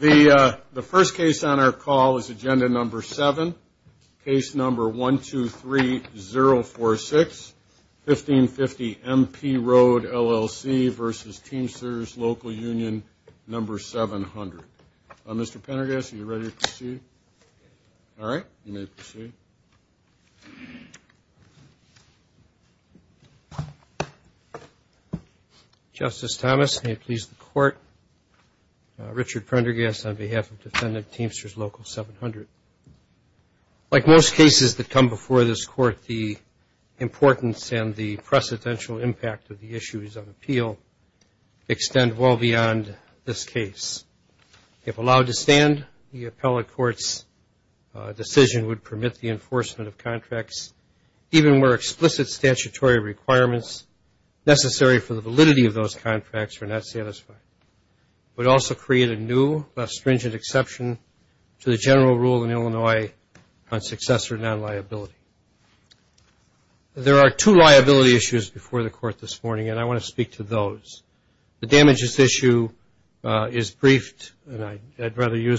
The first case on our call is Agenda No. 7, Case No. 123046, 1550 MP Road LLC v. Teamsters Local Union No. 700. Mr. Pendergast, are you ready to proceed? All right, you may proceed. Justice Thomas, may it please the Court, Richard Pendergast on behalf of Defendant Teamsters Local 700. Like most cases that come before this Court, the importance and the precedential impact of the issues of appeal extend well beyond this case. If allowed to stand, the appellate court's decision would permit the enforcement of contracts, even where explicit statutory requirements necessary for the validity of those contracts are not satisfied. It would also create a new, less stringent exception to the general rule in Illinois on successor non-liability. There are two liability issues before the Court this morning, and I want to speak to those. I'd rather use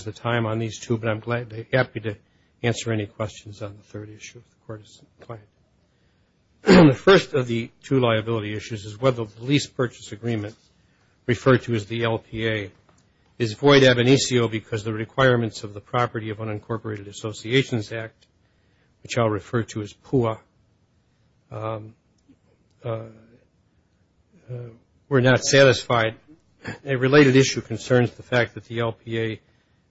the time on these two, but I'm happy to answer any questions on the third issue if the Court is inclined. The first of the two liability issues is whether the lease purchase agreement, referred to as the LPA, is void ab initio because the requirements of the Property of Unincorporated Associations Act, which I'll refer to as PUA, were not satisfied. A related issue concerns the fact that the LPA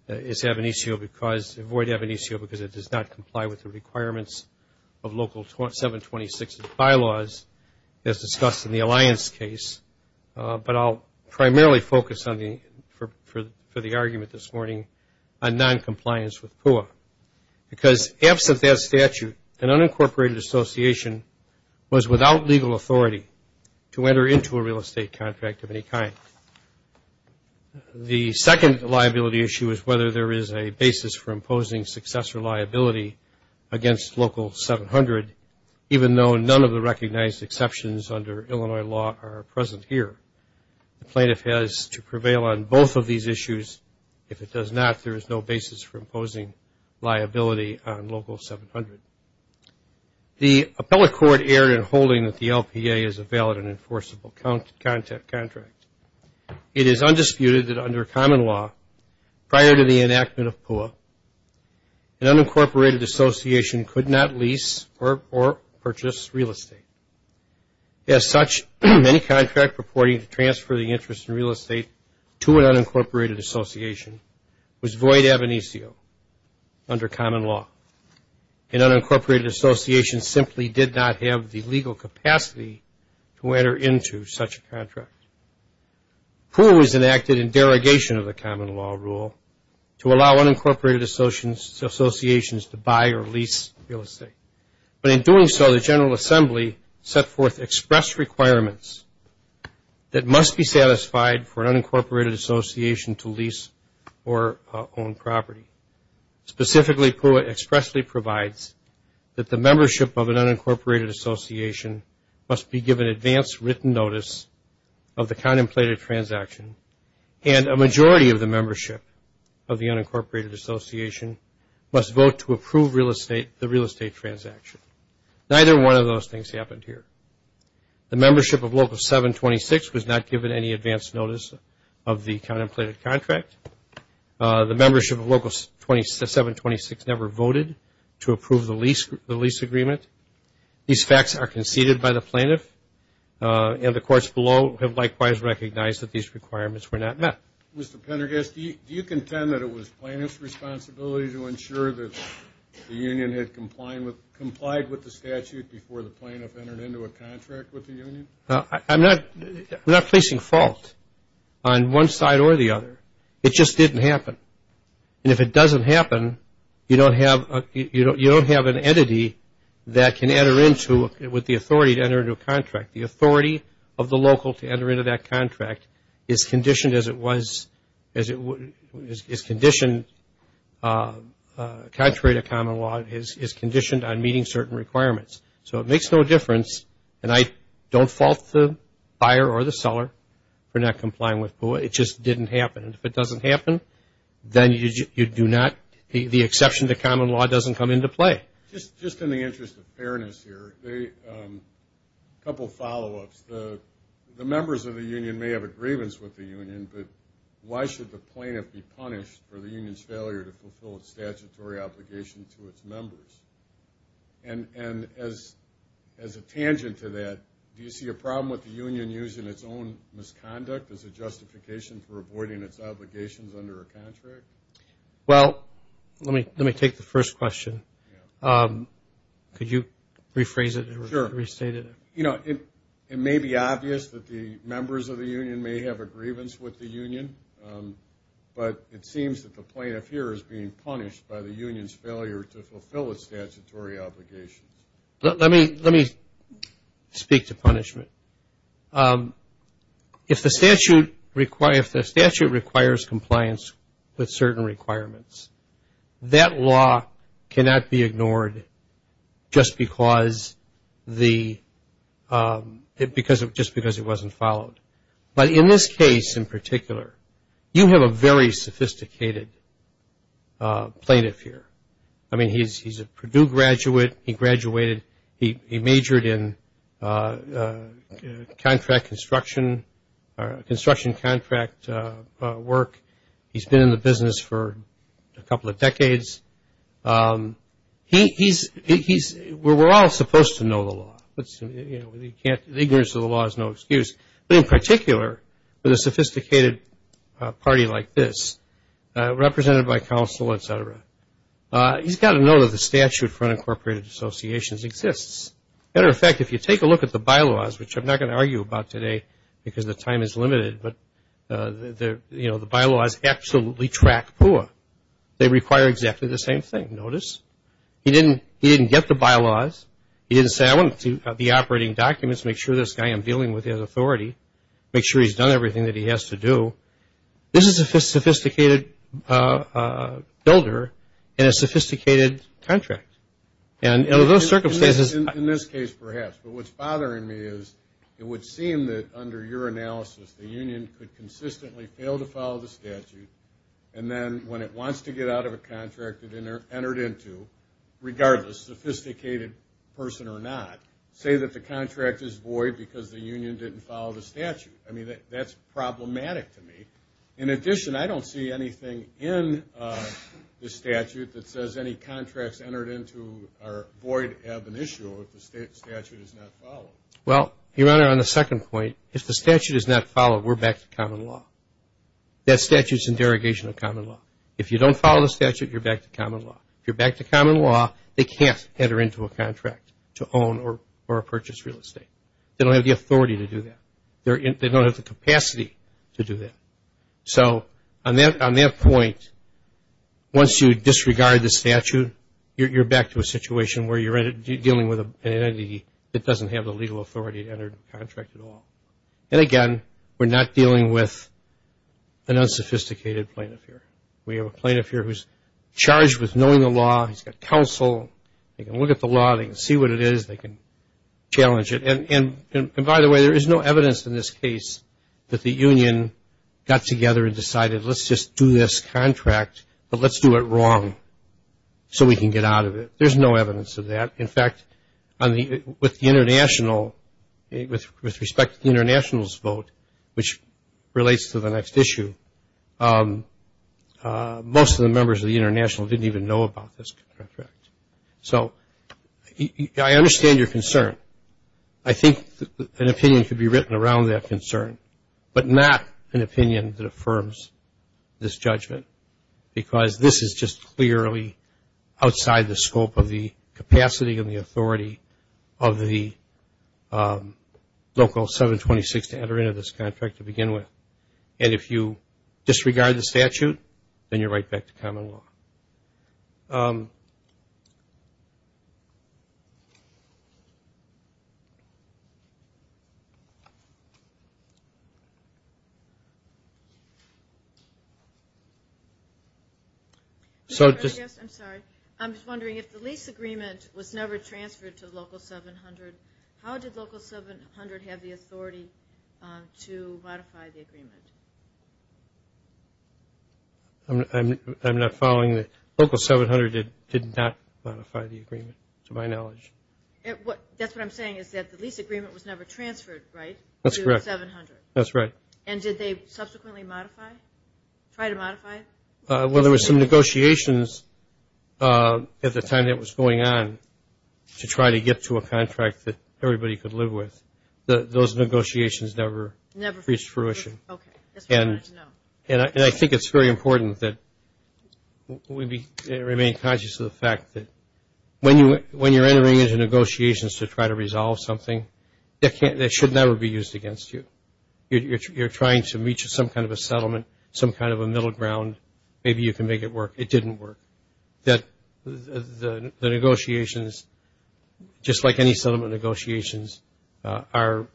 is ab initio because, void ab initio because it does not comply with the requirements of Local 726 bylaws, as discussed in the Alliance case. But I'll primarily focus on the, for the argument this morning, on non-compliance with PUA, because absent that statute, an unincorporated association was without legal authority to enter into a real estate contract of any kind. The second liability issue is whether there is a basis for imposing successor liability against Local 700, even though none of the recognized exceptions under Illinois law are present here. The plaintiff has to prevail on both of these issues. If it does not, there is no basis for imposing liability on Local 700. The appellate court erred in holding that the LPA is a valid and enforceable contract. It is undisputed that under common law, prior to the enactment of PUA, an unincorporated association could not lease or purchase real estate. As such, any contract purporting to transfer the interest in real estate to an unincorporated association was void ab initio under common law. An unincorporated association simply did not have the legal capacity to enter into such a contract. PUA was enacted in derogation of the common law rule to allow unincorporated associations to buy or lease real estate. But in doing so, the General Assembly set forth express requirements that must be satisfied for an unincorporated association to lease or own property. Specifically, PUA expressly provides that the membership of an unincorporated association must be given advanced written notice of the contemplated transaction and a majority of the membership of the unincorporated association must vote to approve the real estate transaction. Neither one of those things happened here. The membership of Local 726 was not given any advance notice of the contemplated contract. Local 726 never voted to approve the lease agreement. These facts are conceded by the plaintiff and the courts below have likewise recognized that these requirements were not met. Mr. Pendergast, do you contend that it was plaintiff's responsibility to ensure that the union had complied with the statute before the plaintiff entered into a contract with the union? I'm not placing fault on one side or the other. It just didn't happen. And if it doesn't happen, you don't have an entity that can enter into, with the authority to enter into a contract. The authority of the local to enter into that contract is conditioned as it was, is conditioned, contrary to common law, is conditioned on meeting certain requirements. So it makes no difference, and I don't fault the buyer or the seller for not complying with PUA. It just didn't happen, and if it doesn't happen, then you do not, the exception to common law doesn't come into play. Just in the interest of fairness here, a couple follow-ups. The members of the union may have a grievance with the union, but why should the plaintiff be punished for the union's failure to fulfill its statutory obligation to its members? And as a tangent to that, do you see a problem with the union using its own misconduct as a justification for its failure? As a justification for avoiding its obligations under a contract? Well, let me take the first question. Could you rephrase it or restate it? It may be obvious that the members of the union may have a grievance with the union, but it seems that the plaintiff here is being punished by the union's failure to fulfill its statutory obligations. Let me speak to punishment. If the statute requires compliance with certain requirements, that law cannot be ignored just because it wasn't followed. But in this case in particular, you have a very sophisticated plaintiff here. I mean, he's a Purdue graduate. He graduated, he majored in contract construction, construction contract work. He's been in the business for a couple of decades. We're all supposed to know the law. Ignorance of the law is no excuse. But in particular, with a sophisticated party like this, represented by counsel, etc., he's got to know that the statute for unincorporated associations exists. Matter of fact, if you take a look at the bylaws, which I'm not going to argue about today because the time is limited, but the bylaws absolutely track PUA. They require exactly the same thing. He didn't get the bylaws, he didn't say, I want the operating documents, make sure this guy I'm dealing with has authority, make sure he's done everything that he has to do. This is a sophisticated builder in a sophisticated contract. And under those circumstances... In this case, perhaps, but what's bothering me is it would seem that under your analysis, the union could consistently fail to follow the statute, and then when it wants to get out of a contract it entered into, regardless, sophisticated person or not, say that the contract is void because the union didn't follow the statute. I mean, that's problematic to me. In addition, I don't see anything in the statute that says any contracts entered into are void ab initio if the statute is not followed. Well, Your Honor, on the second point, if the statute is not followed, we're back to common law. That statute's in derogation of common law. If you don't follow the statute, you're back to common law. If you're back to common law, they can't enter into a contract to own or purchase real estate. They don't have the authority to do that. They don't have the capacity to do that. So on that point, once you disregard the statute, you're back to a situation where you're dealing with an entity that doesn't have the legal authority to enter into a contract at all. And again, we're not dealing with an unsophisticated plaintiff here. We have a plaintiff here who's charged with knowing the law, he's got counsel, they can look at the law, they can see what it is, they can challenge it. And by the way, there is no evidence in this case that the union got together and decided, let's just do this contract, but let's do it wrong so we can get out of it. There's no evidence of that. In fact, with respect to the international's vote, which relates to the next issue, most of the members of the international didn't even know about this contract. So I understand your concern. I think an opinion could be written around that concern, but not an opinion that affirms this judgment. Because this is just clearly outside the scope of the capacity and the authority of the local 726 to enter into this contract to begin with. And if you disregard the statute, then you're right back to common law. I'm just wondering, if the lease agreement was never transferred to local 700, how did local 700 have the authority to modify the agreement? I'm not following. Local 700 did not modify the agreement, to my knowledge. That's what I'm saying, is that the lease agreement was never transferred, right, to 700? That's right. And did they subsequently modify, try to modify? Well, there was some negotiations at the time that it was going on to try to get to a contract that everybody could live with. And I think it's very important that we remain conscious of the fact that when you're entering into negotiations to try to resolve something, that should never be used against you. You're trying to reach some kind of a settlement, some kind of a middle ground, maybe you can make it work. It didn't work. That the negotiations, just like any settlement negotiations, are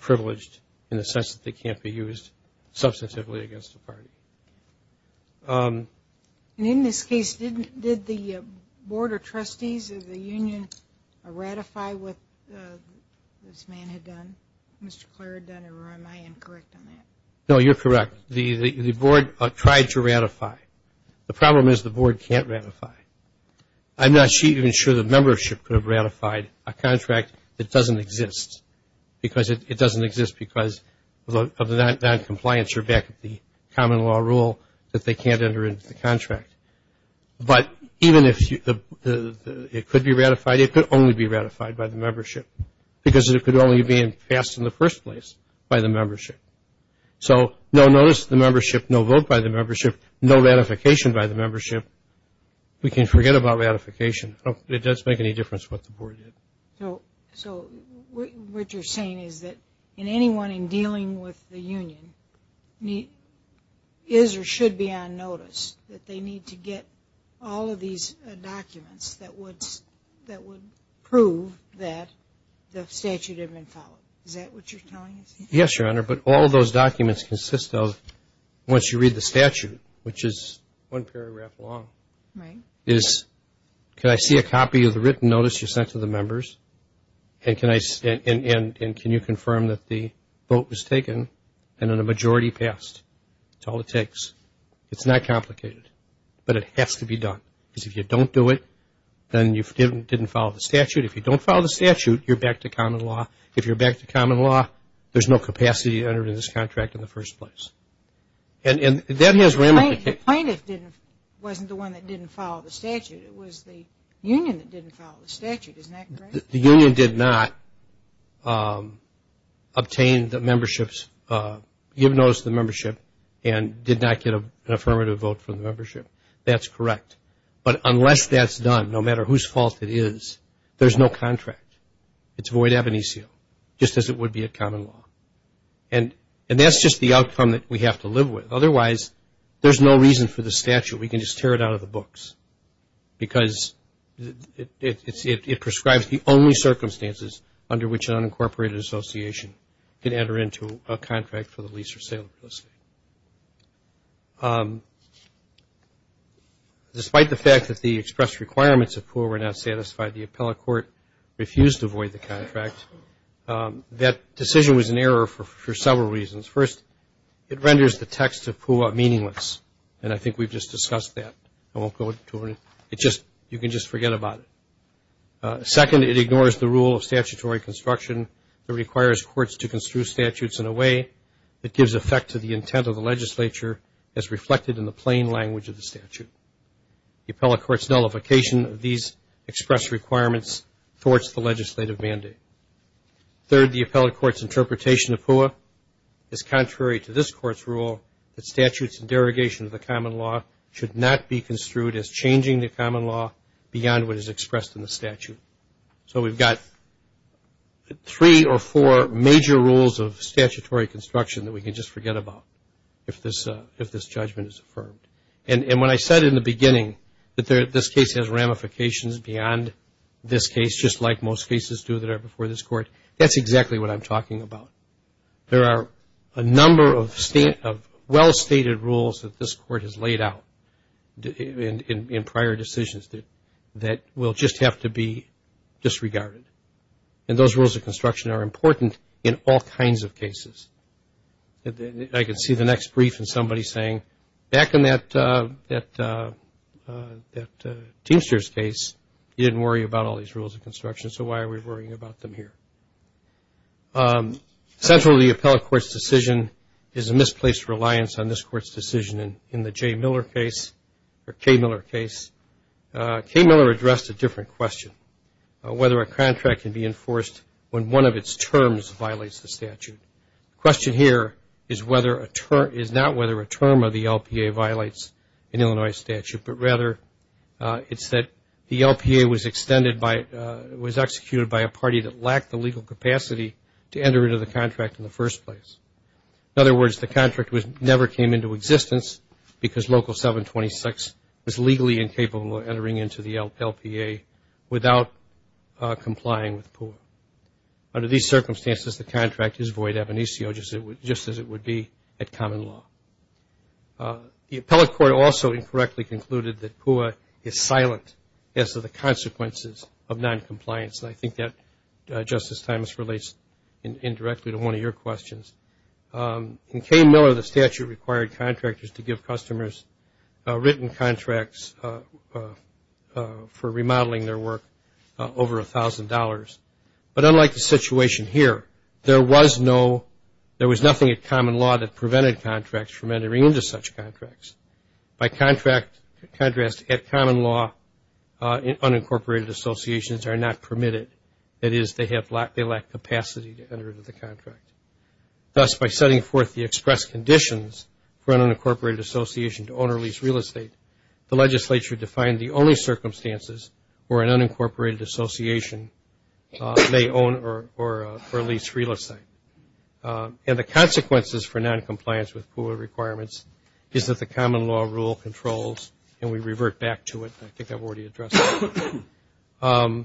privileged in the sense that they can't be used substantively against a party. And in this case, did the Board of Trustees of the union ratify what this man had done, Mr. Clare had done, or am I incorrect on that? No, you're correct, the board tried to ratify. The problem is the board can't ratify. I'm not even sure the membership could have ratified a contract that doesn't exist, because it doesn't exist because of the noncompliance or back of the common law rule that they can't enter into the contract. But even if it could be ratified, it could only be ratified by the membership, because it could only have been passed in the first place by the membership. So no notice to the membership, no vote by the membership, no ratification by the membership. We can forget about ratification, it doesn't make any difference what the board did. So what you're saying is that anyone in dealing with the union is or should be on notice that they need to get all of these documents that would prove that the statute had been followed, is that what you're telling us? Yes, Your Honor, but all of those documents consist of, once you read the statute, which is one paragraph long, is can I see a copy of the written notice you sent to the members, and can you confirm that the vote was taken, and then a majority passed. That's all it takes. It's not complicated, but it has to be done, because if you don't do it, then you didn't follow the statute. There was no capacity to enter into this contract in the first place. The plaintiff wasn't the one that didn't follow the statute, it was the union that didn't follow the statute, isn't that correct? The union did not obtain the membership's, give notice to the membership, and did not get an affirmative vote from the membership. That's correct. But unless that's done, no matter whose fault it is, there's no contract. It's void ab initio, just as it would be a common law. And that's just the outcome that we have to live with, otherwise there's no reason for the statute, we can just tear it out of the books, because it prescribes the only circumstances under which an unincorporated association can enter into a contract for the lease or sale of real estate. Despite the fact that the expressed requirements of PUA were not satisfied, the appellate court refused to void the contract. That decision was an error for several reasons. First, it renders the text of PUA meaningless, and I think we've just discussed that. Second, it ignores the rule of statutory construction that requires courts to construe statutes in a way that gives effect to the intent of the legislature, as reflected in the plain language of the statute. The appellate court's nullification of these expressed requirements thwarts the legislative mandate. Third, the appellate court's interpretation of PUA is contrary to this court's rule that statutes and derogation of the common law should not be construed as changing the common law beyond what is expressed in the statute. So we've got three or four major rules of statutory construction that we can just forget about, if this judgment is affirmed. And when I said in the beginning that this case has ramifications beyond this case, just like most cases do that are before this court, that's exactly what I'm talking about. There are a number of well-stated rules that this court has laid out in prior decisions that will just have to be disregarded. And those rules of construction are important in all kinds of cases. I can see the next brief and somebody saying, back in that Teamster's case, you didn't worry about all these rules of construction, so why are we worrying about them here? Essentially, the appellate court's decision is a misplaced reliance on this court's decision in the Jay Miller case, or Kay Miller case. Kay Miller addressed a different question, whether a contract can be enforced when one of its terms violates the statute. The question here is not whether a term of the LPA violates an Illinois statute, but rather it's that the LPA was extended by, was executed by a party that lacked the legal capacity to enter into the contract in the first place. In other words, the contract never came into existence because Local 726 was legally incapable of entering into the LPA without complying with PUA. Under these circumstances, the contract is void ab initio, just as it would be at common law. The appellate court also incorrectly concluded that PUA is silent as to the consequences of noncompliance. And I think that, Justice Thomas, relates indirectly to one of your questions. In Kay Miller, the statute required contractors to give customers written contracts for remodeling their work over $1,000. But unlike the situation here, there was no, there was nothing at common law that prevented contracts from entering into such contracts. By contrast, at common law, unincorporated associations are not permitted. That is, they lack capacity to enter into the contract. Thus, by setting forth the express conditions for an unincorporated association to own or lease real estate, the legislature defined the only circumstances where an unincorporated association may own or lease real estate. And the consequences for noncompliance with PUA requirements is that the common law rule controls, and we revert back to it. I think I've already addressed that.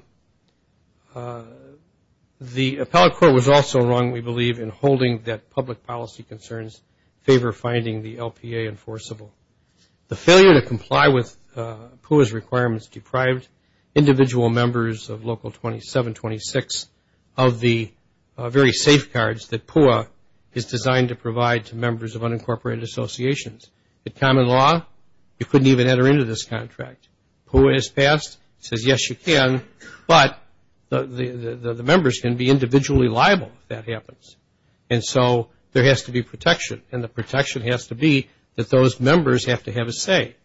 The appellate court was also wrong, we believe, in holding that public policy concerns favor finding the LPA enforceable. The failure to comply with PUA's requirements deprived individual members of Local 2726 of the very safeguards that PUA is designed to provide to members of unincorporated associations. At common law, you couldn't even enter into this contract. PUA is passed, says, yes, you can, but the members can be individually liable if that happens. And so there has to be protection, and the protection has to be that those members have to have a say.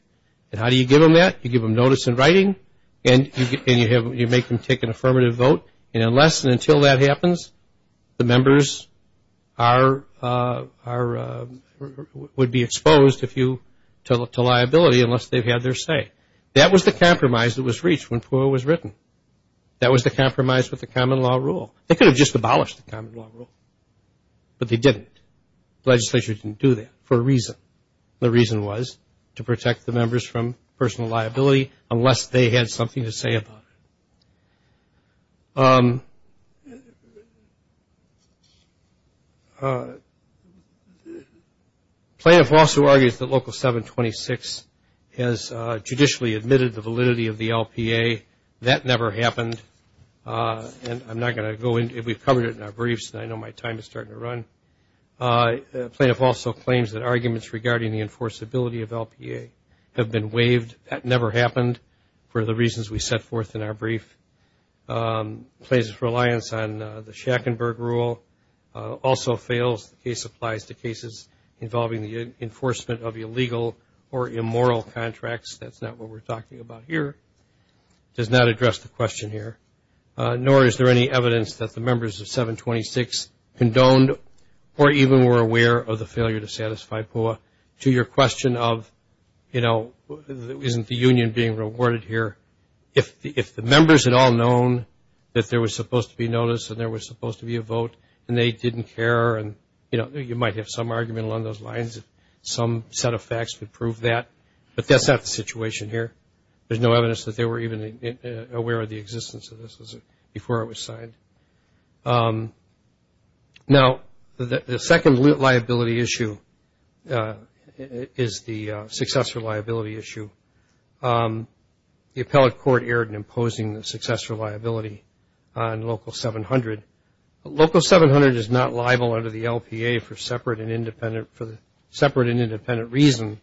And how do you give them that? You give them notice in writing, and you make them take an affirmative vote, and unless and until that happens, the members would be exposed to liability unless they've had their say. That was the compromise that was reached when PUA was written. That was the compromise with the common law rule. They could have just abolished the common law rule, but they didn't. The legislature didn't do that for a reason, and the reason was to protect the members from personal liability unless they had something to say about it. Plaintiff also argues that Local 726 has judicially admitted the validity of the LPA. That never happened, and I'm not going to go into it. We've covered it in our briefs, and I know my time is starting to run. Plaintiff also claims that arguments regarding the enforceability of LPA have been waived. That never happened for the reasons we set forth in our brief. Plaintiff's reliance on the Shackenberg rule also fails. The case applies to cases involving the enforcement of illegal or immoral contracts. That's not what we're talking about here. It does not address the question here, nor is there any evidence that the members of 726 condoned or even were aware of the failure to satisfy PUA. To your question of, you know, isn't the union being rewarded here, if the members had all known that there was supposed to be notice and there was supposed to be a vote, and they didn't care, and they didn't care, you know, you might have some argument along those lines, some set of facts would prove that, but that's not the situation here. There's no evidence that they were even aware of the existence of this before it was signed. Now, the second liability issue is the successor liability issue. The appellate court erred in imposing the successor liability on Local 700. Local 700 is not liable under the LPA for separate and independent reason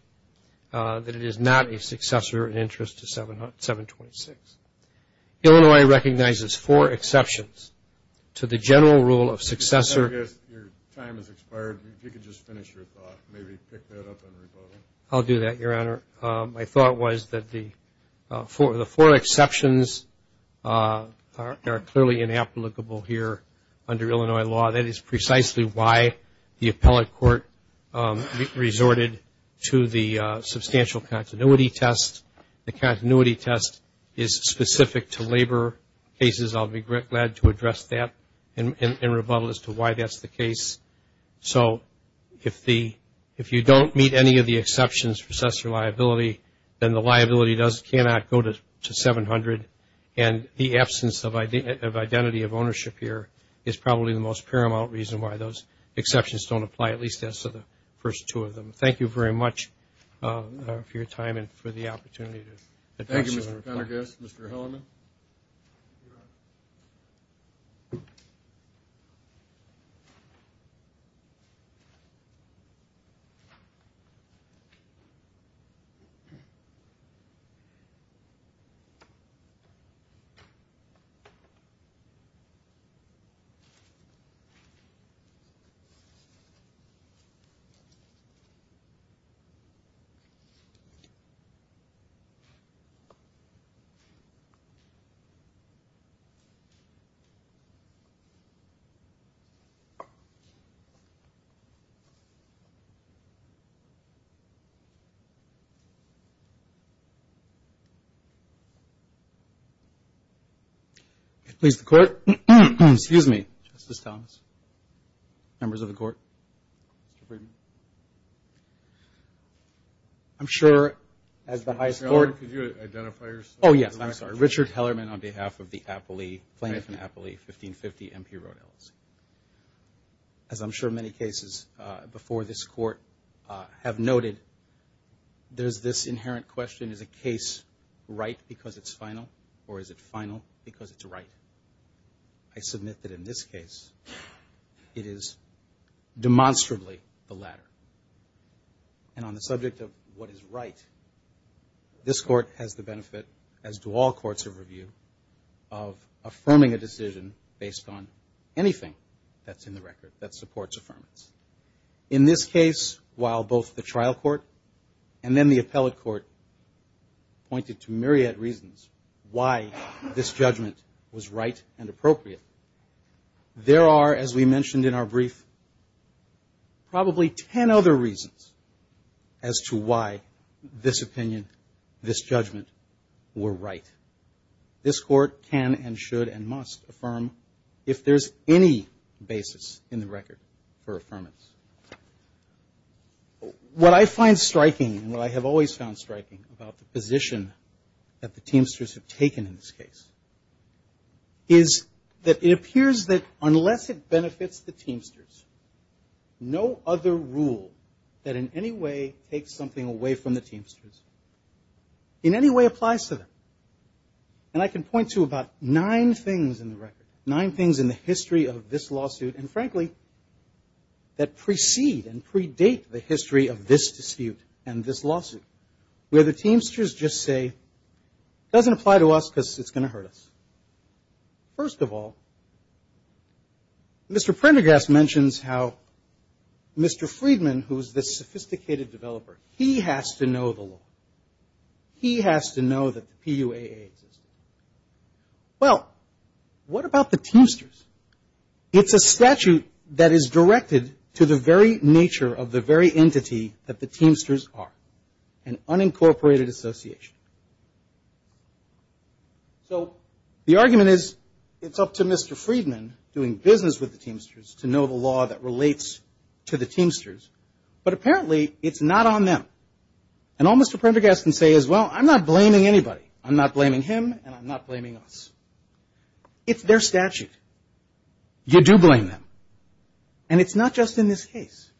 that it is not a successor in interest to 726. Illinois recognizes four exceptions to the general rule of successor. Your time has expired. If you could just finish your thought, maybe pick that up and revote it. I'll do that, Your Honor. My thought was that the four exceptions are clearly inapplicable here under Illinois law. That is precisely why the appellate court resorted to the substantial continuity test. The continuity test is specific to labor cases. I'll be glad to address that in rebuttal as to why that's the case. If there are exceptions for successor liability, then the liability cannot go to 700, and the absence of identity of ownership here is probably the most paramount reason why those exceptions don't apply, at least as to the first two of them. Thank you very much for your time and for the opportunity to address your report. Thank you. Please, the court. Excuse me, Justice Thomas, members of the court. I'm sure as the highest court... Richard Hellerman on behalf of the plaintiff in Appalachia, 1550 M.P. Road, LLC. As I'm sure many cases before this court have noted, there's this inherent question, is a case right because it's final, or is it final because it's right? I submit that in this case, it is demonstrably the latter. And on the subject of what is right, this court has the benefit, as do all courts of review, of affirming a decision based on anything that's in the record that supports affirmance. In this case, while both the trial court and then the appellate court pointed to myriad reasons why this judgment was right and appropriate, there are, as we mentioned in our brief, probably 10 other reasons as to why this opinion, this judgment, were right. This court can and should and must affirm if there's any basis in the record for affirmance. What I find striking, and what I have always found striking about the position that the Teamsters have taken in this case, is that it appears that unless it benefits the Teamsters, no other rule that in any way takes something away from the Teamsters in any way applies to them. And I can point to about nine things in the record, nine things in the history of this lawsuit, and frankly, that precede and predate the history of this dispute and this lawsuit, where the Teamsters just say, doesn't apply to us because it's going to hurt us. First of all, Mr. Prendergast mentions how Mr. Friedman, who is this sophisticated developer, he has to know the law. He has to know that the PUAA exists. Well, what about the Teamsters? It's a statute that is directed to the very nature of the very entity that the Teamsters are, an unincorporated association. So the argument is, it's up to Mr. Friedman, doing business with the Teamsters, to know the law that relates to the Teamsters, but apparently it's not on them. And all Mr. Prendergast can say is, well, I'm not blaming anybody. I'm not blaming him, and I'm not blaming us. It's their statute. You do blame them. And it's not just in this case,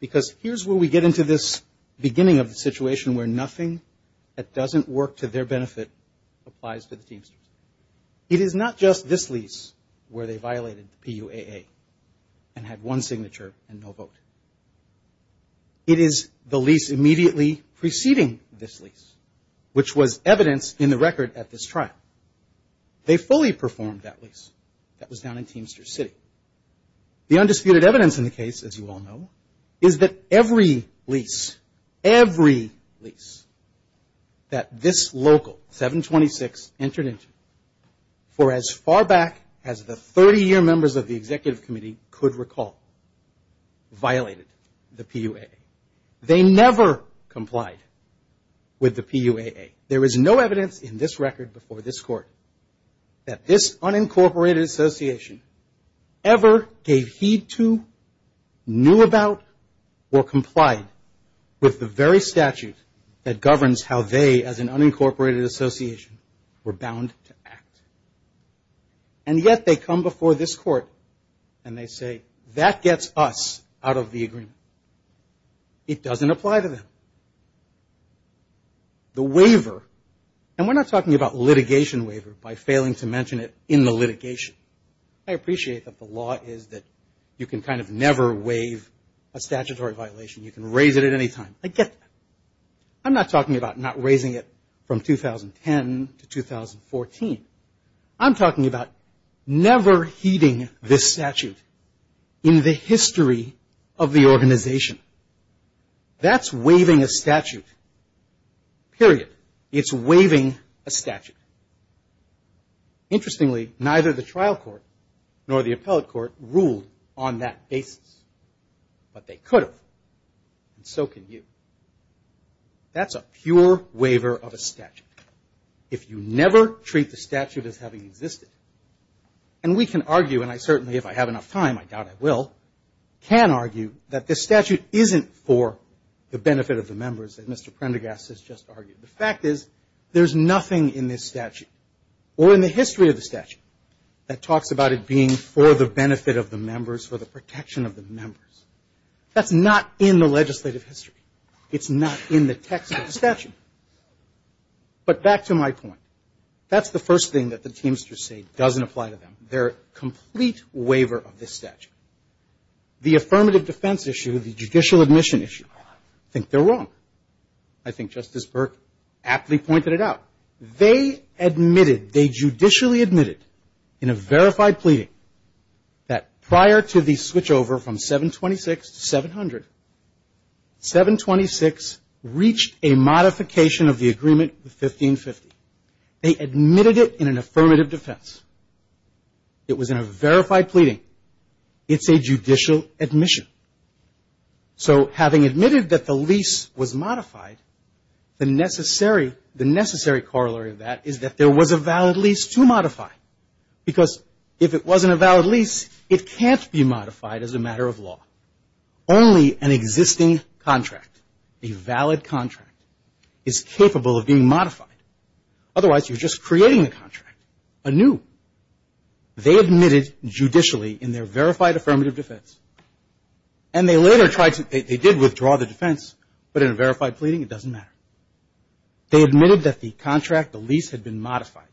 because here's where we get into this beginning of the situation where nothing that doesn't work to their benefit applies to the Teamsters. It is not just this lease where they violated the PUAA and had one signature and no vote. It is the lease immediately preceding this lease, which was evidence in the record at this trial. They fully performed that lease. That was down in Teamsters City. The undisputed evidence in the case, as you all know, is that every lease, every lease, that this local, 726, entered into, for as far back as the 30-year members of the Executive Committee could recall, violated the PUAA. They never complied with the PUAA. There is no evidence in this record before this Court that this unincorporated association ever gave heed to, knew about, or complied with the very statute that did not apply to Teamsters. It governs how they, as an unincorporated association, were bound to act. And yet they come before this Court and they say, that gets us out of the agreement. It doesn't apply to them. The waiver, and we're not talking about litigation waiver by failing to mention it in the litigation. I appreciate that the law is that you can kind of never waive a statutory violation. You can raise it at any time. I get that. I'm not talking about not raising it from 2010 to 2014. I'm talking about never heeding this statute in the history of the organization. That's waiving a statute, period. It's waiving a statute. Interestingly, neither the trial court nor the appellate court ruled on that basis. But they could have, and so can you. That's a pure waiver of a statute. If you never treat the statute as having existed, and we can argue, and I certainly, if I have enough time, I doubt I will, can argue that this statute isn't for the benefit of the members that Mr. Prendergast has just argued. The fact is, there's nothing in this statute, or in the history of the statute, that talks about it being for the benefit of the members, for the protection of the members. That's not in the legislative history. It's not in the text of the statute. But back to my point. That's the first thing that the Teamsters say doesn't apply to them. They're a complete waiver of this statute. The affirmative defense issue, the judicial admission issue, I think they're wrong. I think Justice Burke aptly pointed it out. They admitted, they judicially admitted, in a verified pleading, that prior to the switchover from 726 to 700, 726 reached a modification of the agreement with 1550. They admitted it in an affirmative defense. It was in a verified pleading. It's a judicial admission. So having admitted that the lease was modified, the necessary corollary of that is that there was a valid lease to modify. Because if it wasn't a valid lease, it can't be modified as a matter of law. Only an existing contract, a valid contract, is capable of being modified. Otherwise, you're just creating a contract anew. They admitted judicially in their verified affirmative defense. And they later tried to, they did withdraw the defense, but in a verified pleading, it doesn't matter. They admitted that the contract, the lease, had been modified.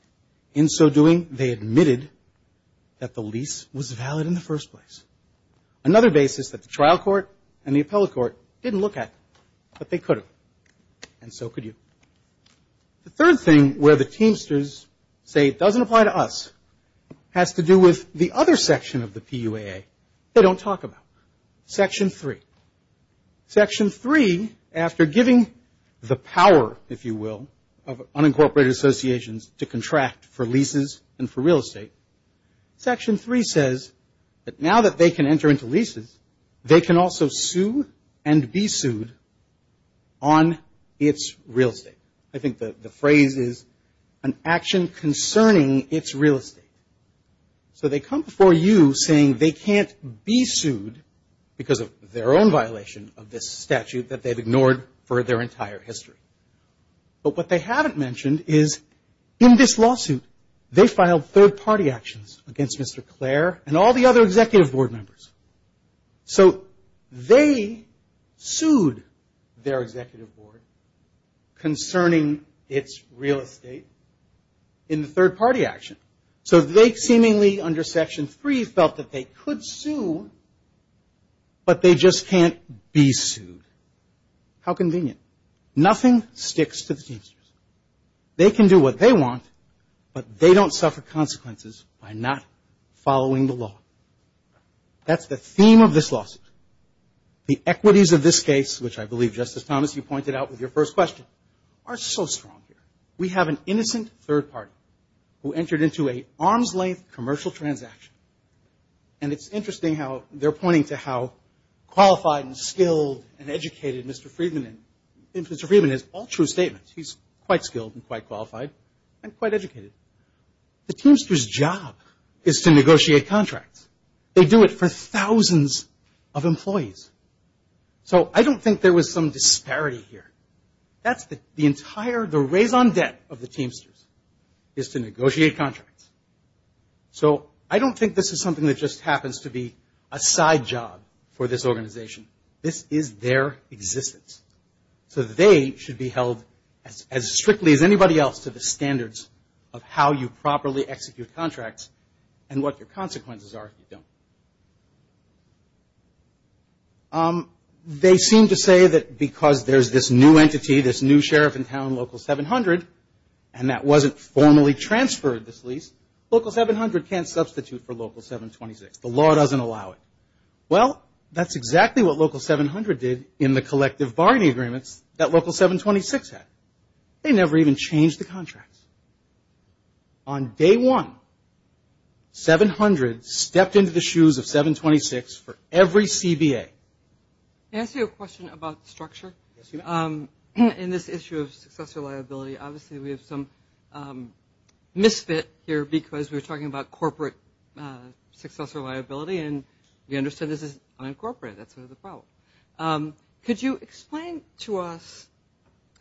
In so doing, they admitted that the lease was valid in the first place. Another basis that the trial court and the appellate court didn't look at, but they could have. And so could you. The third thing where the Teamsters say it doesn't apply to us has to do with the other section of the PUAA. They don't talk about it. Section 3. Section 3, after giving the power, if you will, of unincorporated associations to contract for leases and for real estate. Section 3 says that now that they can enter into leases, they can also sue and be sued on its real estate. I think the phrase is an action concerning its real estate. So they come before you saying they can't be sued because of their own violation of this statute that they've ignored for their entire history. But what they haven't mentioned is in this lawsuit, they filed third-party actions against Mr. Clare and all the other executive board members. So they sued their executive board concerning its real estate in the third-party action. So they seemingly under Section 3 felt that they could sue, but they just can't be sued. How convenient. Nothing sticks to the Teamsters. They can do what they want, but they don't suffer consequences by not following the law. That's the theme of this lawsuit. The equities of this case, which I believe, Justice Thomas, you pointed out with your first question, are so strong here. We have an innocent third party who entered into an arm's-length commercial transaction. And it's interesting how they're pointing to how qualified and skilled and educated Mr. Friedman is. All true statements. He's quite skilled and quite qualified and quite educated. The Teamsters' job is to negotiate contracts. So I don't think there was some disparity here. The entire, the raison d'etre of the Teamsters is to negotiate contracts. So I don't think this is something that just happens to be a side job for this organization. This is their existence. So they should be held as strictly as anybody else to the standards of how you properly execute contracts and what your consequences are if you don't. They seem to say that because there's this new entity, this new sheriff in town, Local 700, and that wasn't formally transferred, this lease, Local 700 can't substitute for Local 726. The law doesn't allow it. Well, that's exactly what Local 700 did in the collective bargaining agreements that Local 726 had. They never even changed the contracts. On day one, 700 stepped into the shoes of 726 for every CBA. Can I ask you a question about structure? In this issue of successor liability, obviously we have some misfit here because we're talking about corporate successor liability, and we understand this is unincorporated. That's sort of the problem. Could you explain to us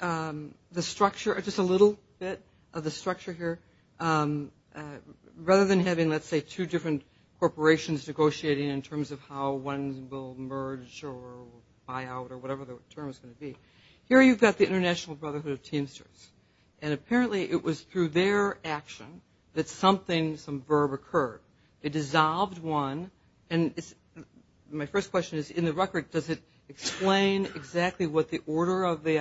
the structure, just a little bit of the structure here? Rather than having, let's say, two different corporations negotiating in terms of how one will merge or buy out or whatever the term is going to be, here you've got the International Brotherhood of Teamsters, and apparently it was through their action that something, some verb occurred. It dissolved one, and my first question is, in the record, does it explain exactly what the order of the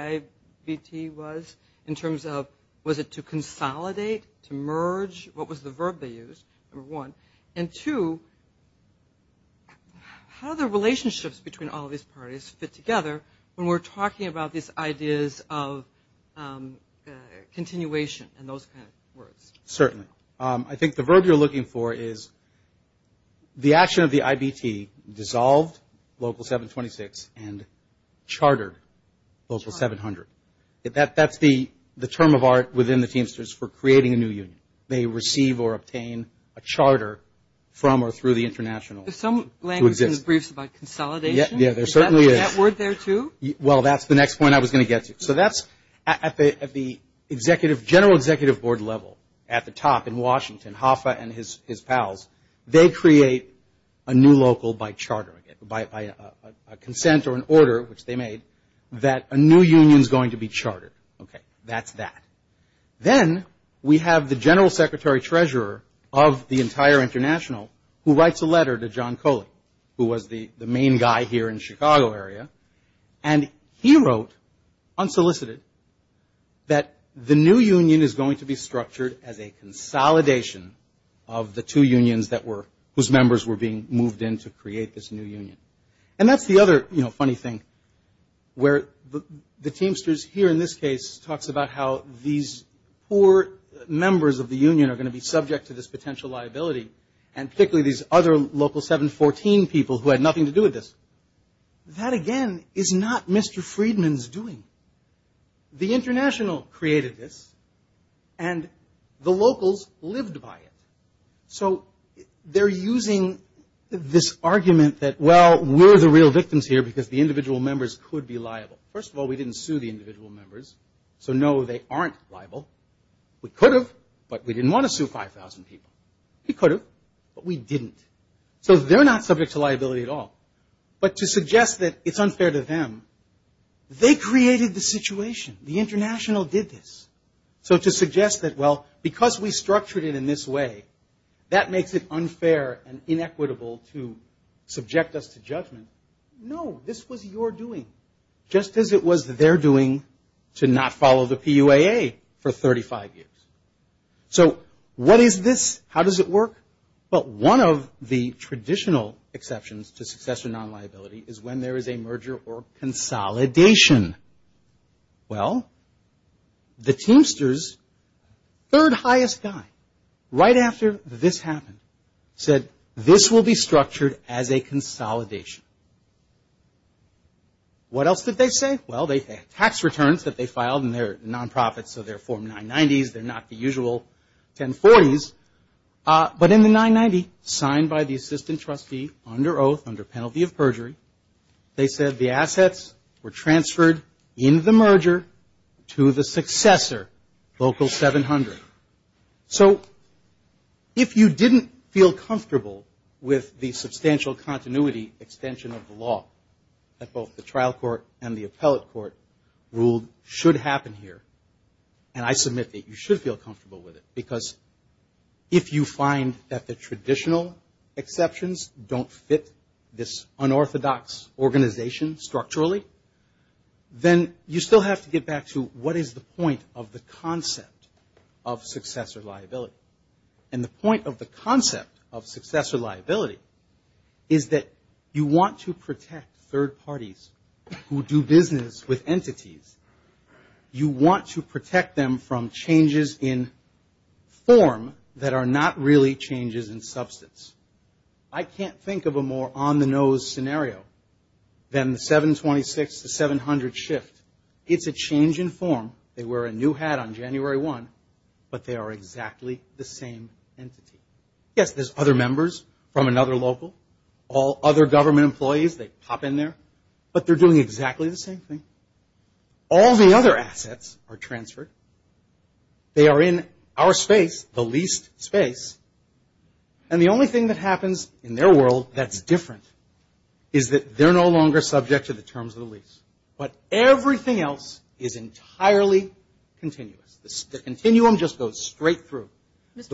IVT was, in terms of was it to consolidate, to merge, what was the verb they used, number one? And two, how do the relationships between all of these parties fit together when we're talking about these ideas of continuation and those kind of words? Certainly. I think the verb you're looking for is the action of the IVT dissolved Local 726 and chartered Local 700. That's the term of art within the Teamsters for creating a new union. They receive or obtain a charter from or through the international. There's some language in the briefs about consolidation. Yeah, there certainly is. Is that word there, too? Well, that's the next point I was going to get to. So that's at the executive, general executive board level at the top in Washington, Hoffa and his pals, they create a new local by charter, by a consent or an order, which they made, that a new union is going to be chartered. Okay, that's that. Then we have the general secretary treasurer of the entire international who writes a letter to John Coley, who was the main guy here in Chicago area. And he wrote, unsolicited, that the new union is going to be structured as a consolidation of the two unions that were, whose members were being moved in to create this new union. And that's the other, you know, funny thing, where the Teamsters here, in this case, talks about how these, you know, these new unions are going to be subject to this potential liability, and particularly these other local 714 people who had nothing to do with this. That, again, is not Mr. Friedman's doing. The international created this, and the locals lived by it. So they're using this argument that, well, we're the real victims here because the individual members could be liable. First of all, we didn't sue the individual members, so no, they aren't liable. We could have, but we didn't want to sue 5,000 people. We could have, but we didn't. So they're not subject to liability at all. But to suggest that it's unfair to them, they created the situation. The international did this. So to suggest that, well, because we structured it in this way, that makes it unfair and inequitable to subject us to judgment. No, this was your doing, just as it was their doing to not follow the PUAA for 35 years. So what is this? How does it work? Well, one of the traditional exceptions to successor non-liability is when there is a merger or consolidation. Well, the Teamsters' third highest guy, right after this happened, said, this will be structured as a consolidation. What else did they say? Well, they had tax returns that they filed, and they're non-profits, so they're Form 990s. They're not the usual 1040s. But in the 990, signed by the assistant trustee under oath, under penalty of perjury, they said the assets were transferred in the merger to the successor, Local 700. So if you didn't feel comfortable with the substantial continuity extension of the law, that both the trial court and the appellate court ruled should happen here, and I submit that you should feel comfortable with it, because if you find that the traditional exceptions don't fit this unorthodox organization structurally, then you still have to get back to, what is the point of the concept of successor liability? And the point of the concept of successor liability is that you want to protect, third parties who do business with entities, you want to protect them from changes in form that are not really changes in substance. I can't think of a more on-the-nose scenario than the 726 to 700 shift. It's a change in form, they wear a new hat on January 1, but they are exactly the same entity. Yes, there's other members from another local, all other government employees, they pop in there, but they're doing exactly the same thing. All the other assets are transferred, they are in our space, the leased space, and the only thing that happens in their world that's different is that they're no longer subject to the terms of the lease. But everything else is entirely continuous. The continuum just goes straight through. Yes.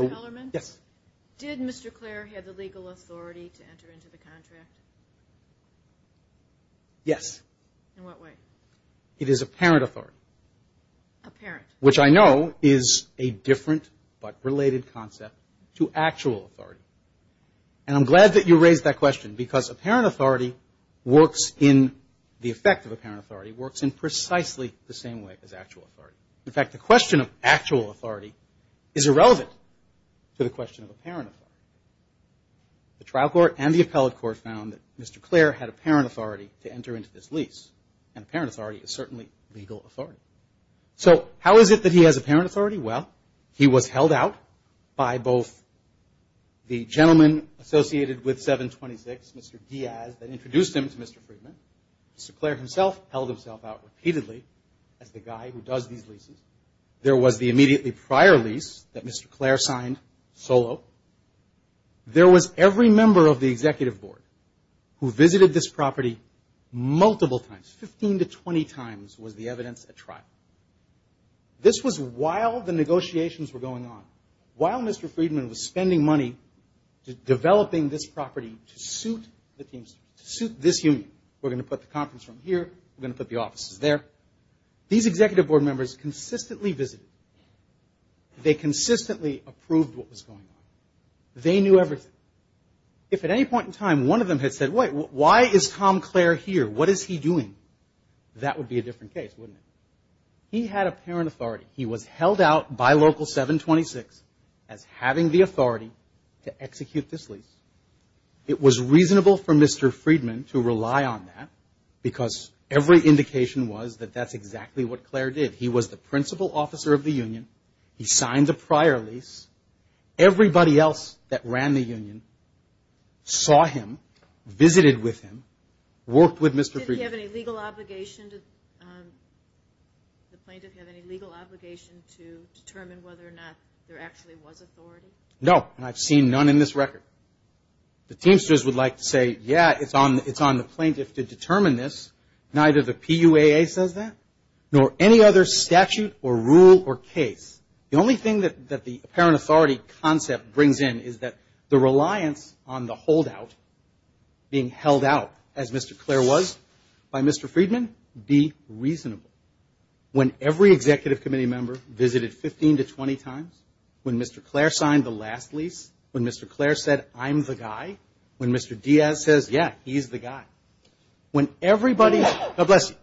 Yes. Which I know is a different but related concept to actual authority. And I'm glad that you raised that question, because apparent authority works in, the effect of apparent authority works in precisely the same way as actual authority. In fact, the question of actual authority is irrelevant to the question of apparent authority. The trial court and the appellate court found that Mr. Clair had apparent authority to enter into this lease, and apparent authority is certainly legal authority. So how is it that he has apparent authority? Well, he was held out by both the gentleman associated with 726, Mr. Diaz, that introduced him to Mr. Friedman, Mr. Clair himself held himself out repeatedly as the guy who does these leases. There was the immediately prior lease that Mr. Clair signed solo. There was every member of the executive board who visited this property multiple times, 15 to 20 times was the evidence at trial. All the negotiations were going on while Mr. Friedman was spending money developing this property to suit this union. We're going to put the conference room here, we're going to put the offices there. These executive board members consistently visited. They consistently approved what was going on. They knew everything. If at any point in time one of them had said, wait, why is Tom Clair here? What is he doing? That would be a different case, wouldn't it? He had apparent authority. He was held out by Local 726 as having the authority to execute this lease. It was reasonable for Mr. Friedman to rely on that because every indication was that that's exactly what Clair did. He was the principal officer of the union. He signed the prior lease. Everybody else that ran the union saw him, visited with him, worked with Mr. Friedman. No, and I've seen none in this record. The Teamsters would like to say, yeah, it's on the plaintiff to determine this. Neither the PUAA says that, nor any other statute or rule or case. The only thing that the apparent authority concept brings in is that the reliance on the holdout being held out, as Mr. Clair was, by Mr. Friedman, be reasonable. When every executive committee member visited 15 to 20 times, when Mr. Clair signed the last lease, when Mr. Clair said, I'm the guy, when Mr. Diaz says, yeah, he's the guy. When everybody, God bless you,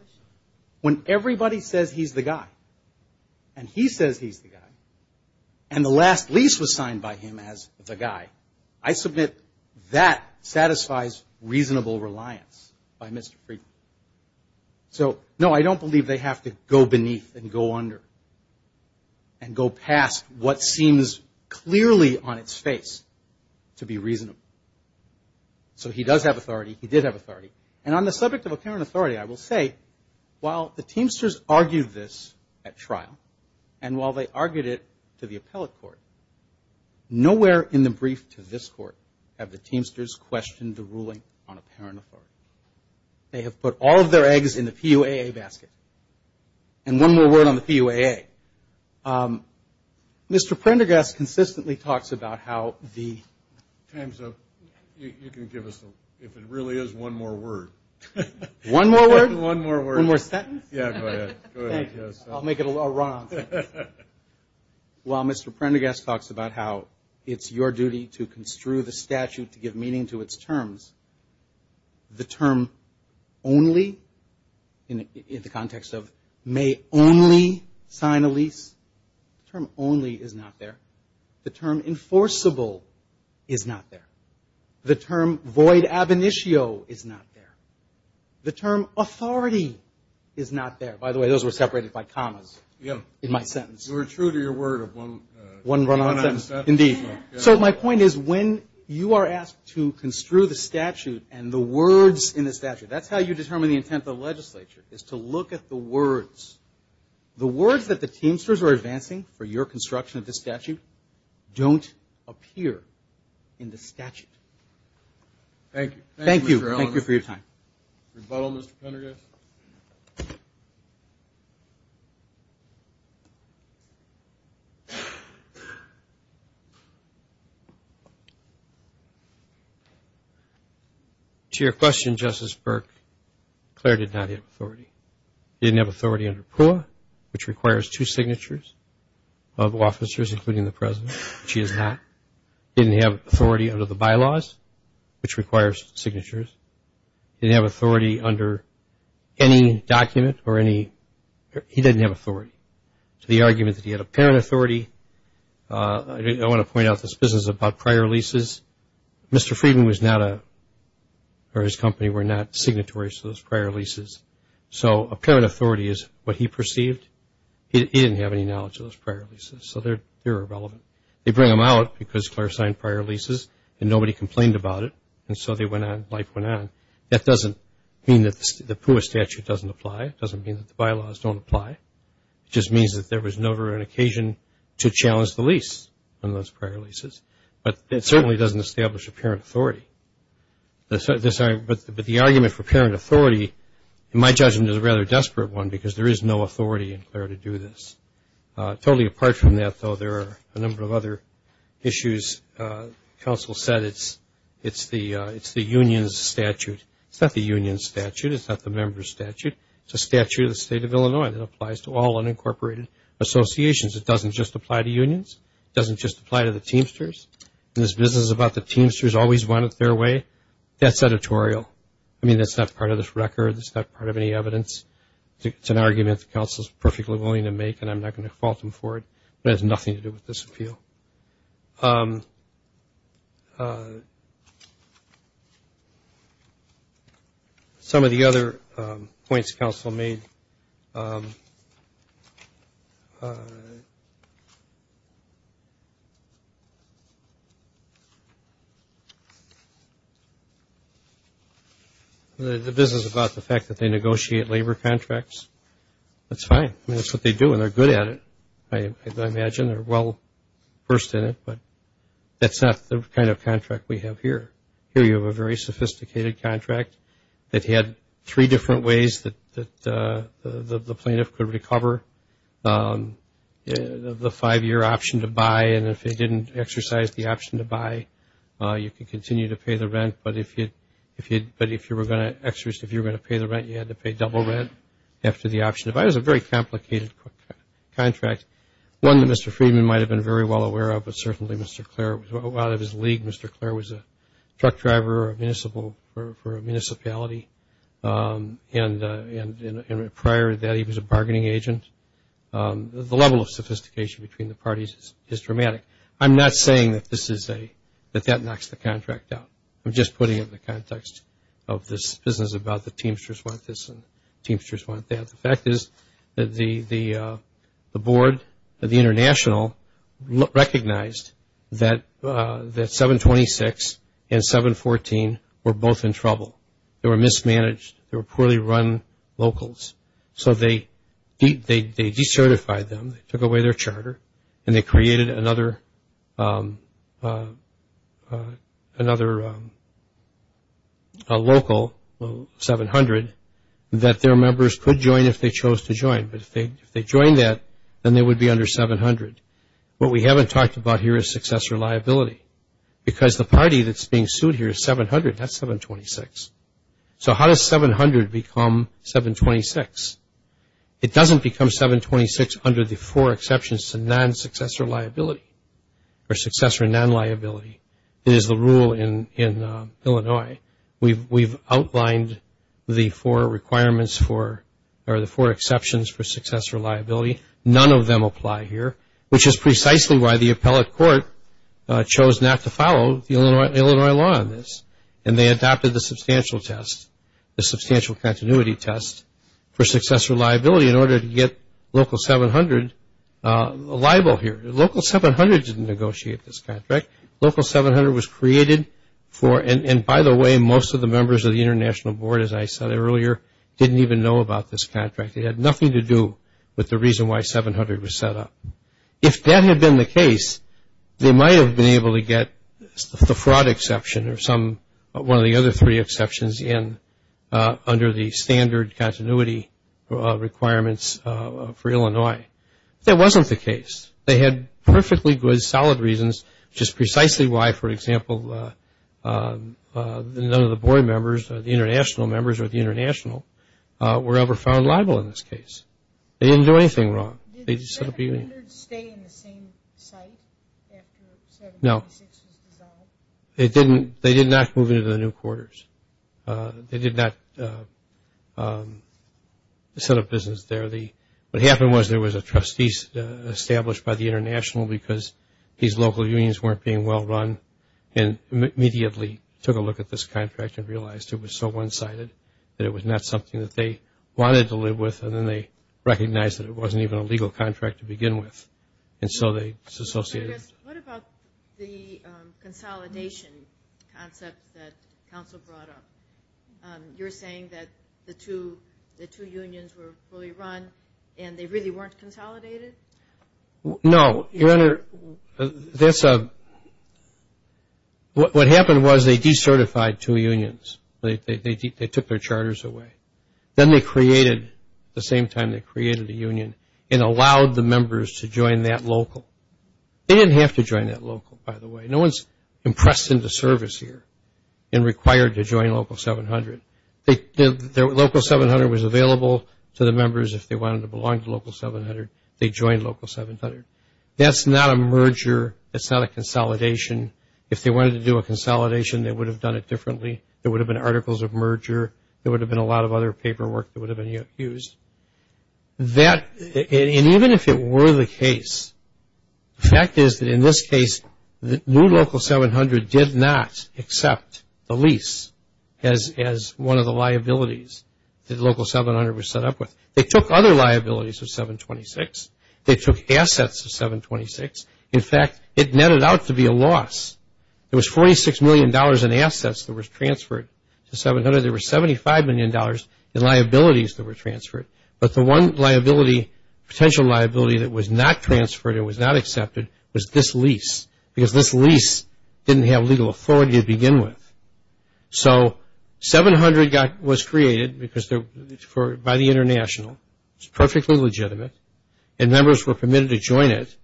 when everybody says he's the guy, and he says he's the guy, and the last lease was signed by him as the guy, I submit that satisfies reasonable reliance by Mr. Friedman. So, no, I don't believe they have to go beneath and go under and go past what seems clearly on its face to be reasonable. So he does have authority, he did have authority, and on the subject of apparent authority, I will say, while the Teamsters argued this at trial, and while they argued it to the appellate court, nowhere in the brief to this court have the Teamsters questioned the ruling on apparent authority. They have put all of their eggs in the PUAA basket. And one more word on the PUAA. Mr. Prendergast consistently talks about how the... One more word? One more sentence? Yeah, go ahead. I'll make it a run on things. While Mr. Prendergast talks about how it's your duty to construe the statute to give meaning to its terms, the term only, in the context of may only sign a lease, the term only is not there. The term enforceable is not there. The term void ab initio is not there. The term authority is not there. By the way, those were separated by commas in my sentence. So my point is, when you are asked to construe the statute and the words in the statute, that's how you determine the intent of the legislature, is to look at the words. The words that the Teamsters are advancing for your construction of this statute don't appear in the statute. Thank you. Thank you for your time. To your question, Justice Burke, Claire did not have authority. She didn't have authority under PUAA, which requires two signatures of officers, including the President. She didn't have authority under the bylaws, which requires signatures. She didn't have authority under any document or any – he didn't have authority. The argument that he had apparent authority – I want to point out this business about prior leases. Mr. Friedman was not a – or his company were not signatories to those prior leases. So apparent authority is what he perceived. He didn't have any knowledge of those prior leases, so they're irrelevant. They bring them out because Claire signed prior leases and nobody complained about it, and so they went on, life went on. That doesn't mean that the PUAA statute doesn't apply. It doesn't mean that the bylaws don't apply. It just means that there was never an occasion to challenge the lease on those prior leases. But it certainly doesn't establish apparent authority. But the argument for apparent authority, in my judgment, is a rather desperate one, because there is no authority in Claire to do this. Totally apart from that, though, there are a number of other issues. Counsel said it's the union's statute. It's not the union's statute. It's not the member's statute. It's a statute of the State of Illinois that applies to all unincorporated associations. It doesn't just apply to unions. It doesn't just apply to the Teamsters. And this business about the Teamsters always wanted their way, that's editorial. I mean, that's not part of this record. That's not part of any evidence. It's an argument that counsel is perfectly willing to make, and I'm not going to fault him for it. It has nothing to do with this appeal. Some of the other points counsel made, the business about the fact that they negotiate labor contracts, that's fine. I mean, that's what they do, and they're good at it, I imagine. They're well versed in it, but that's not the kind of contract we have here. Here you have a very sophisticated contract that had three different ways that the plaintiff could recover. The five-year option to buy, and if they didn't exercise the option to buy, you could continue to pay the rent. But if you were going to pay the rent, you had to pay double rent after the option to buy. It was a very complicated contract, one that Mr. Friedman might have been very well aware of, but certainly Mr. Clair, out of his league, Mr. Clair was a truck driver for a municipality, and prior to that he was a bargaining agent. The level of sophistication between the parties is dramatic. I'm not saying that that knocks the contract out. I'm just putting it in the context of this business about the Teamsters want this and Teamsters want that. The fact is that the board, the international, recognized that 726 and 714 were both in trouble. They were mismanaged, they were poorly run locals, so they decertified them, they took away their charter, and they created another local, 700, that their members could join if they chose to join. But if they joined that, then they would be under 700. What we haven't talked about here is successor liability, because the party that's being sued here is 700, not 726. So how does 700 become 726? It doesn't become 726 under the four exceptions to non-successor liability, or successor non-liability. It is the rule in Illinois. We've outlined the four requirements for, or the four exceptions for successor liability. None of them apply here, which is precisely why the appellate court chose not to follow the Illinois law on this, and they adopted the substantial test, the substantial continuity test for successor liability in order to get local 700 liable here. Local 700 didn't negotiate this contract. Local 700 was created for, and by the way, most of the members of the international board, as I said earlier, didn't even know about this contract. It had nothing to do with the reason why 700 was set up. If that had been the case, they might have been able to get the fraud exception, or one of the other three exceptions in under the standard continuity requirements for Illinois. That wasn't the case. They had perfectly good, solid reasons, which is precisely why, for example, none of the board members, the international members, or the international, were ever found liable in this case. They didn't do anything wrong. They did not move into the new quarters. They did not set up business there. What happened was there was a trustee established by the international, because these local unions weren't being well run, and immediately took a look at this contract and realized it was so one-sided that it was not something that they wanted to live with, and then they recognized that it wasn't even a legal contract to begin with, and so they associated it. What about the consolidation concept that counsel brought up? You're saying that the two unions were fully run, and they really weren't consolidated? No. What happened was they decertified two unions. They took their charters away. Then they created, at the same time they created the union, and allowed the members to join that local. They didn't have to join that local, by the way. No one's impressed into service here and required to join Local 700. Local 700 was available to the members if they wanted to belong to Local 700. They joined Local 700. That's not a merger. It's not a consolidation. If they wanted to do a consolidation, they would have done it differently. There would have been articles of merger. There would have been a lot of other paperwork that would have been used. And even if it were the case, the fact is that in this case, New Local 700 did not accept the lease as one of the liabilities that Local 700 was set up with. They took other liabilities of 726. They took assets of 726. In fact, it netted out to be a loss. There was $46 million in assets that was transferred to 700. There was $75 million in liabilities that were transferred. But the one potential liability that was not transferred or was not accepted was this lease because this lease didn't have legal authority to begin with. So 700 was created by the international. It's perfectly legitimate. And members were permitted to join it.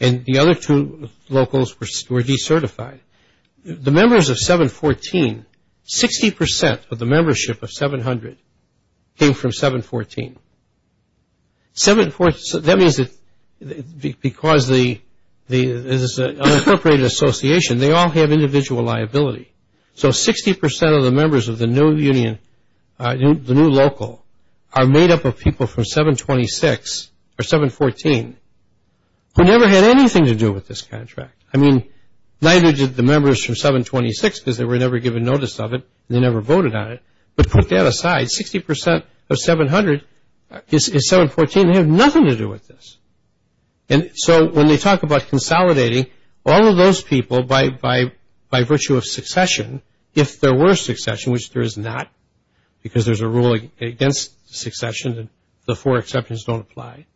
And the other two locals were decertified. The members of 714, 60% of the membership of 700 came from 714. That means that because it's an unincorporated association, they all have individual liability. So 60% of the members of the New Local are made up of people from 726 or 714 who never had anything to do with this contract. I mean, neither did the members from 726 because they were never given notice of it and they never voted on it. But put that aside, 60% of 700 is 714. They have nothing to do with this. And so when they talk about consolidating, all of those people, by virtue of succession, if there were succession, which there is not because there's a rule against succession and the four exceptions don't apply,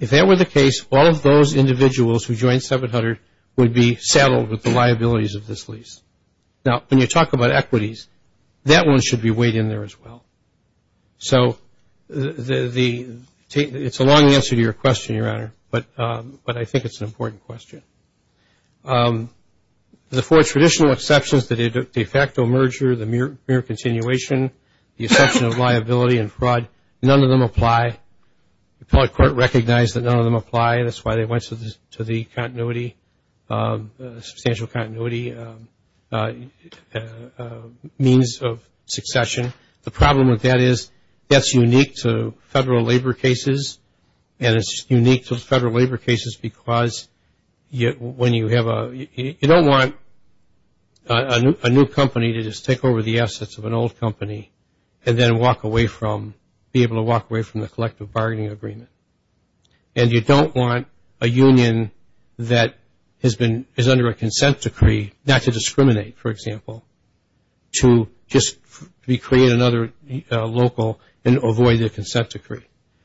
if that were the case, all of those individuals who joined 700 would be saddled with the liabilities of this lease. Now, when you talk about equities, that one should be weighed in there as well. So it's a long answer to your question, Your Honor, but I think it's an important question. The four traditional exceptions, the de facto merger, the mere continuation, the exception of liability and fraud, none of them apply. The appellate court recognized that none of them apply. That's why they went to the continuity, substantial continuity means of succession. The problem with that is that's unique to federal labor cases and it's unique to federal labor cases because when you have a – you don't want a new company to just take over the assets of an old company and then be able to walk away from the collective bargaining agreement. And you don't want a union that is under a consent decree, not to discriminate, for example, to just recreate another local and avoid their consent decree.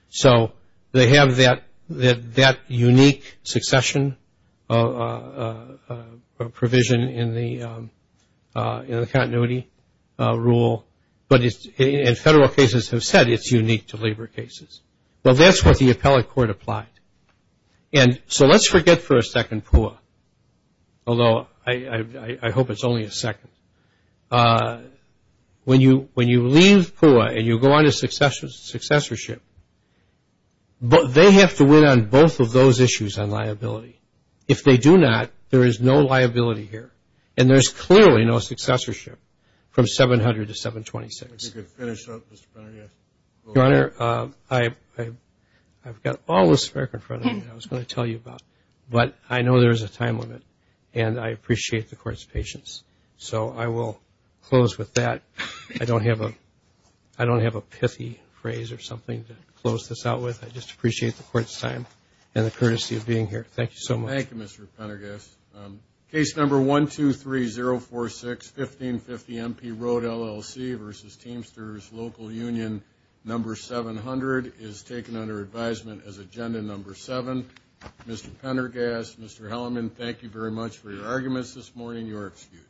So they have that unique succession provision in the continuity rule, but in federal cases have said it's unique to labor cases. Well, that's what the appellate court applied. And so let's forget for a second PUA, although I hope it's only a second. When you leave PUA and you go on to successorship, they have to win on both of those issues on liability. If they do not, there is no liability here. And there's clearly no successorship from 700 to 726. If you could finish up, Mr. Brenner, yes. Your Honor, I've got all this work in front of me that I was going to tell you about, but I know there is a time limit, and I appreciate the court's patience. So I will close with that. I don't have a pithy phrase or something to close this out with. I just appreciate the court's time and the courtesy of being here. Thank you so much. Thank you, Mr. Pendergast. Case number 123046, 1550 MP Road, LLC, versus Teamsters Local Union, number 700, is taken under advisement as agenda number 7. Mr. Pendergast, Mr. Hellerman, thank you very much for your arguments this morning. You are excused.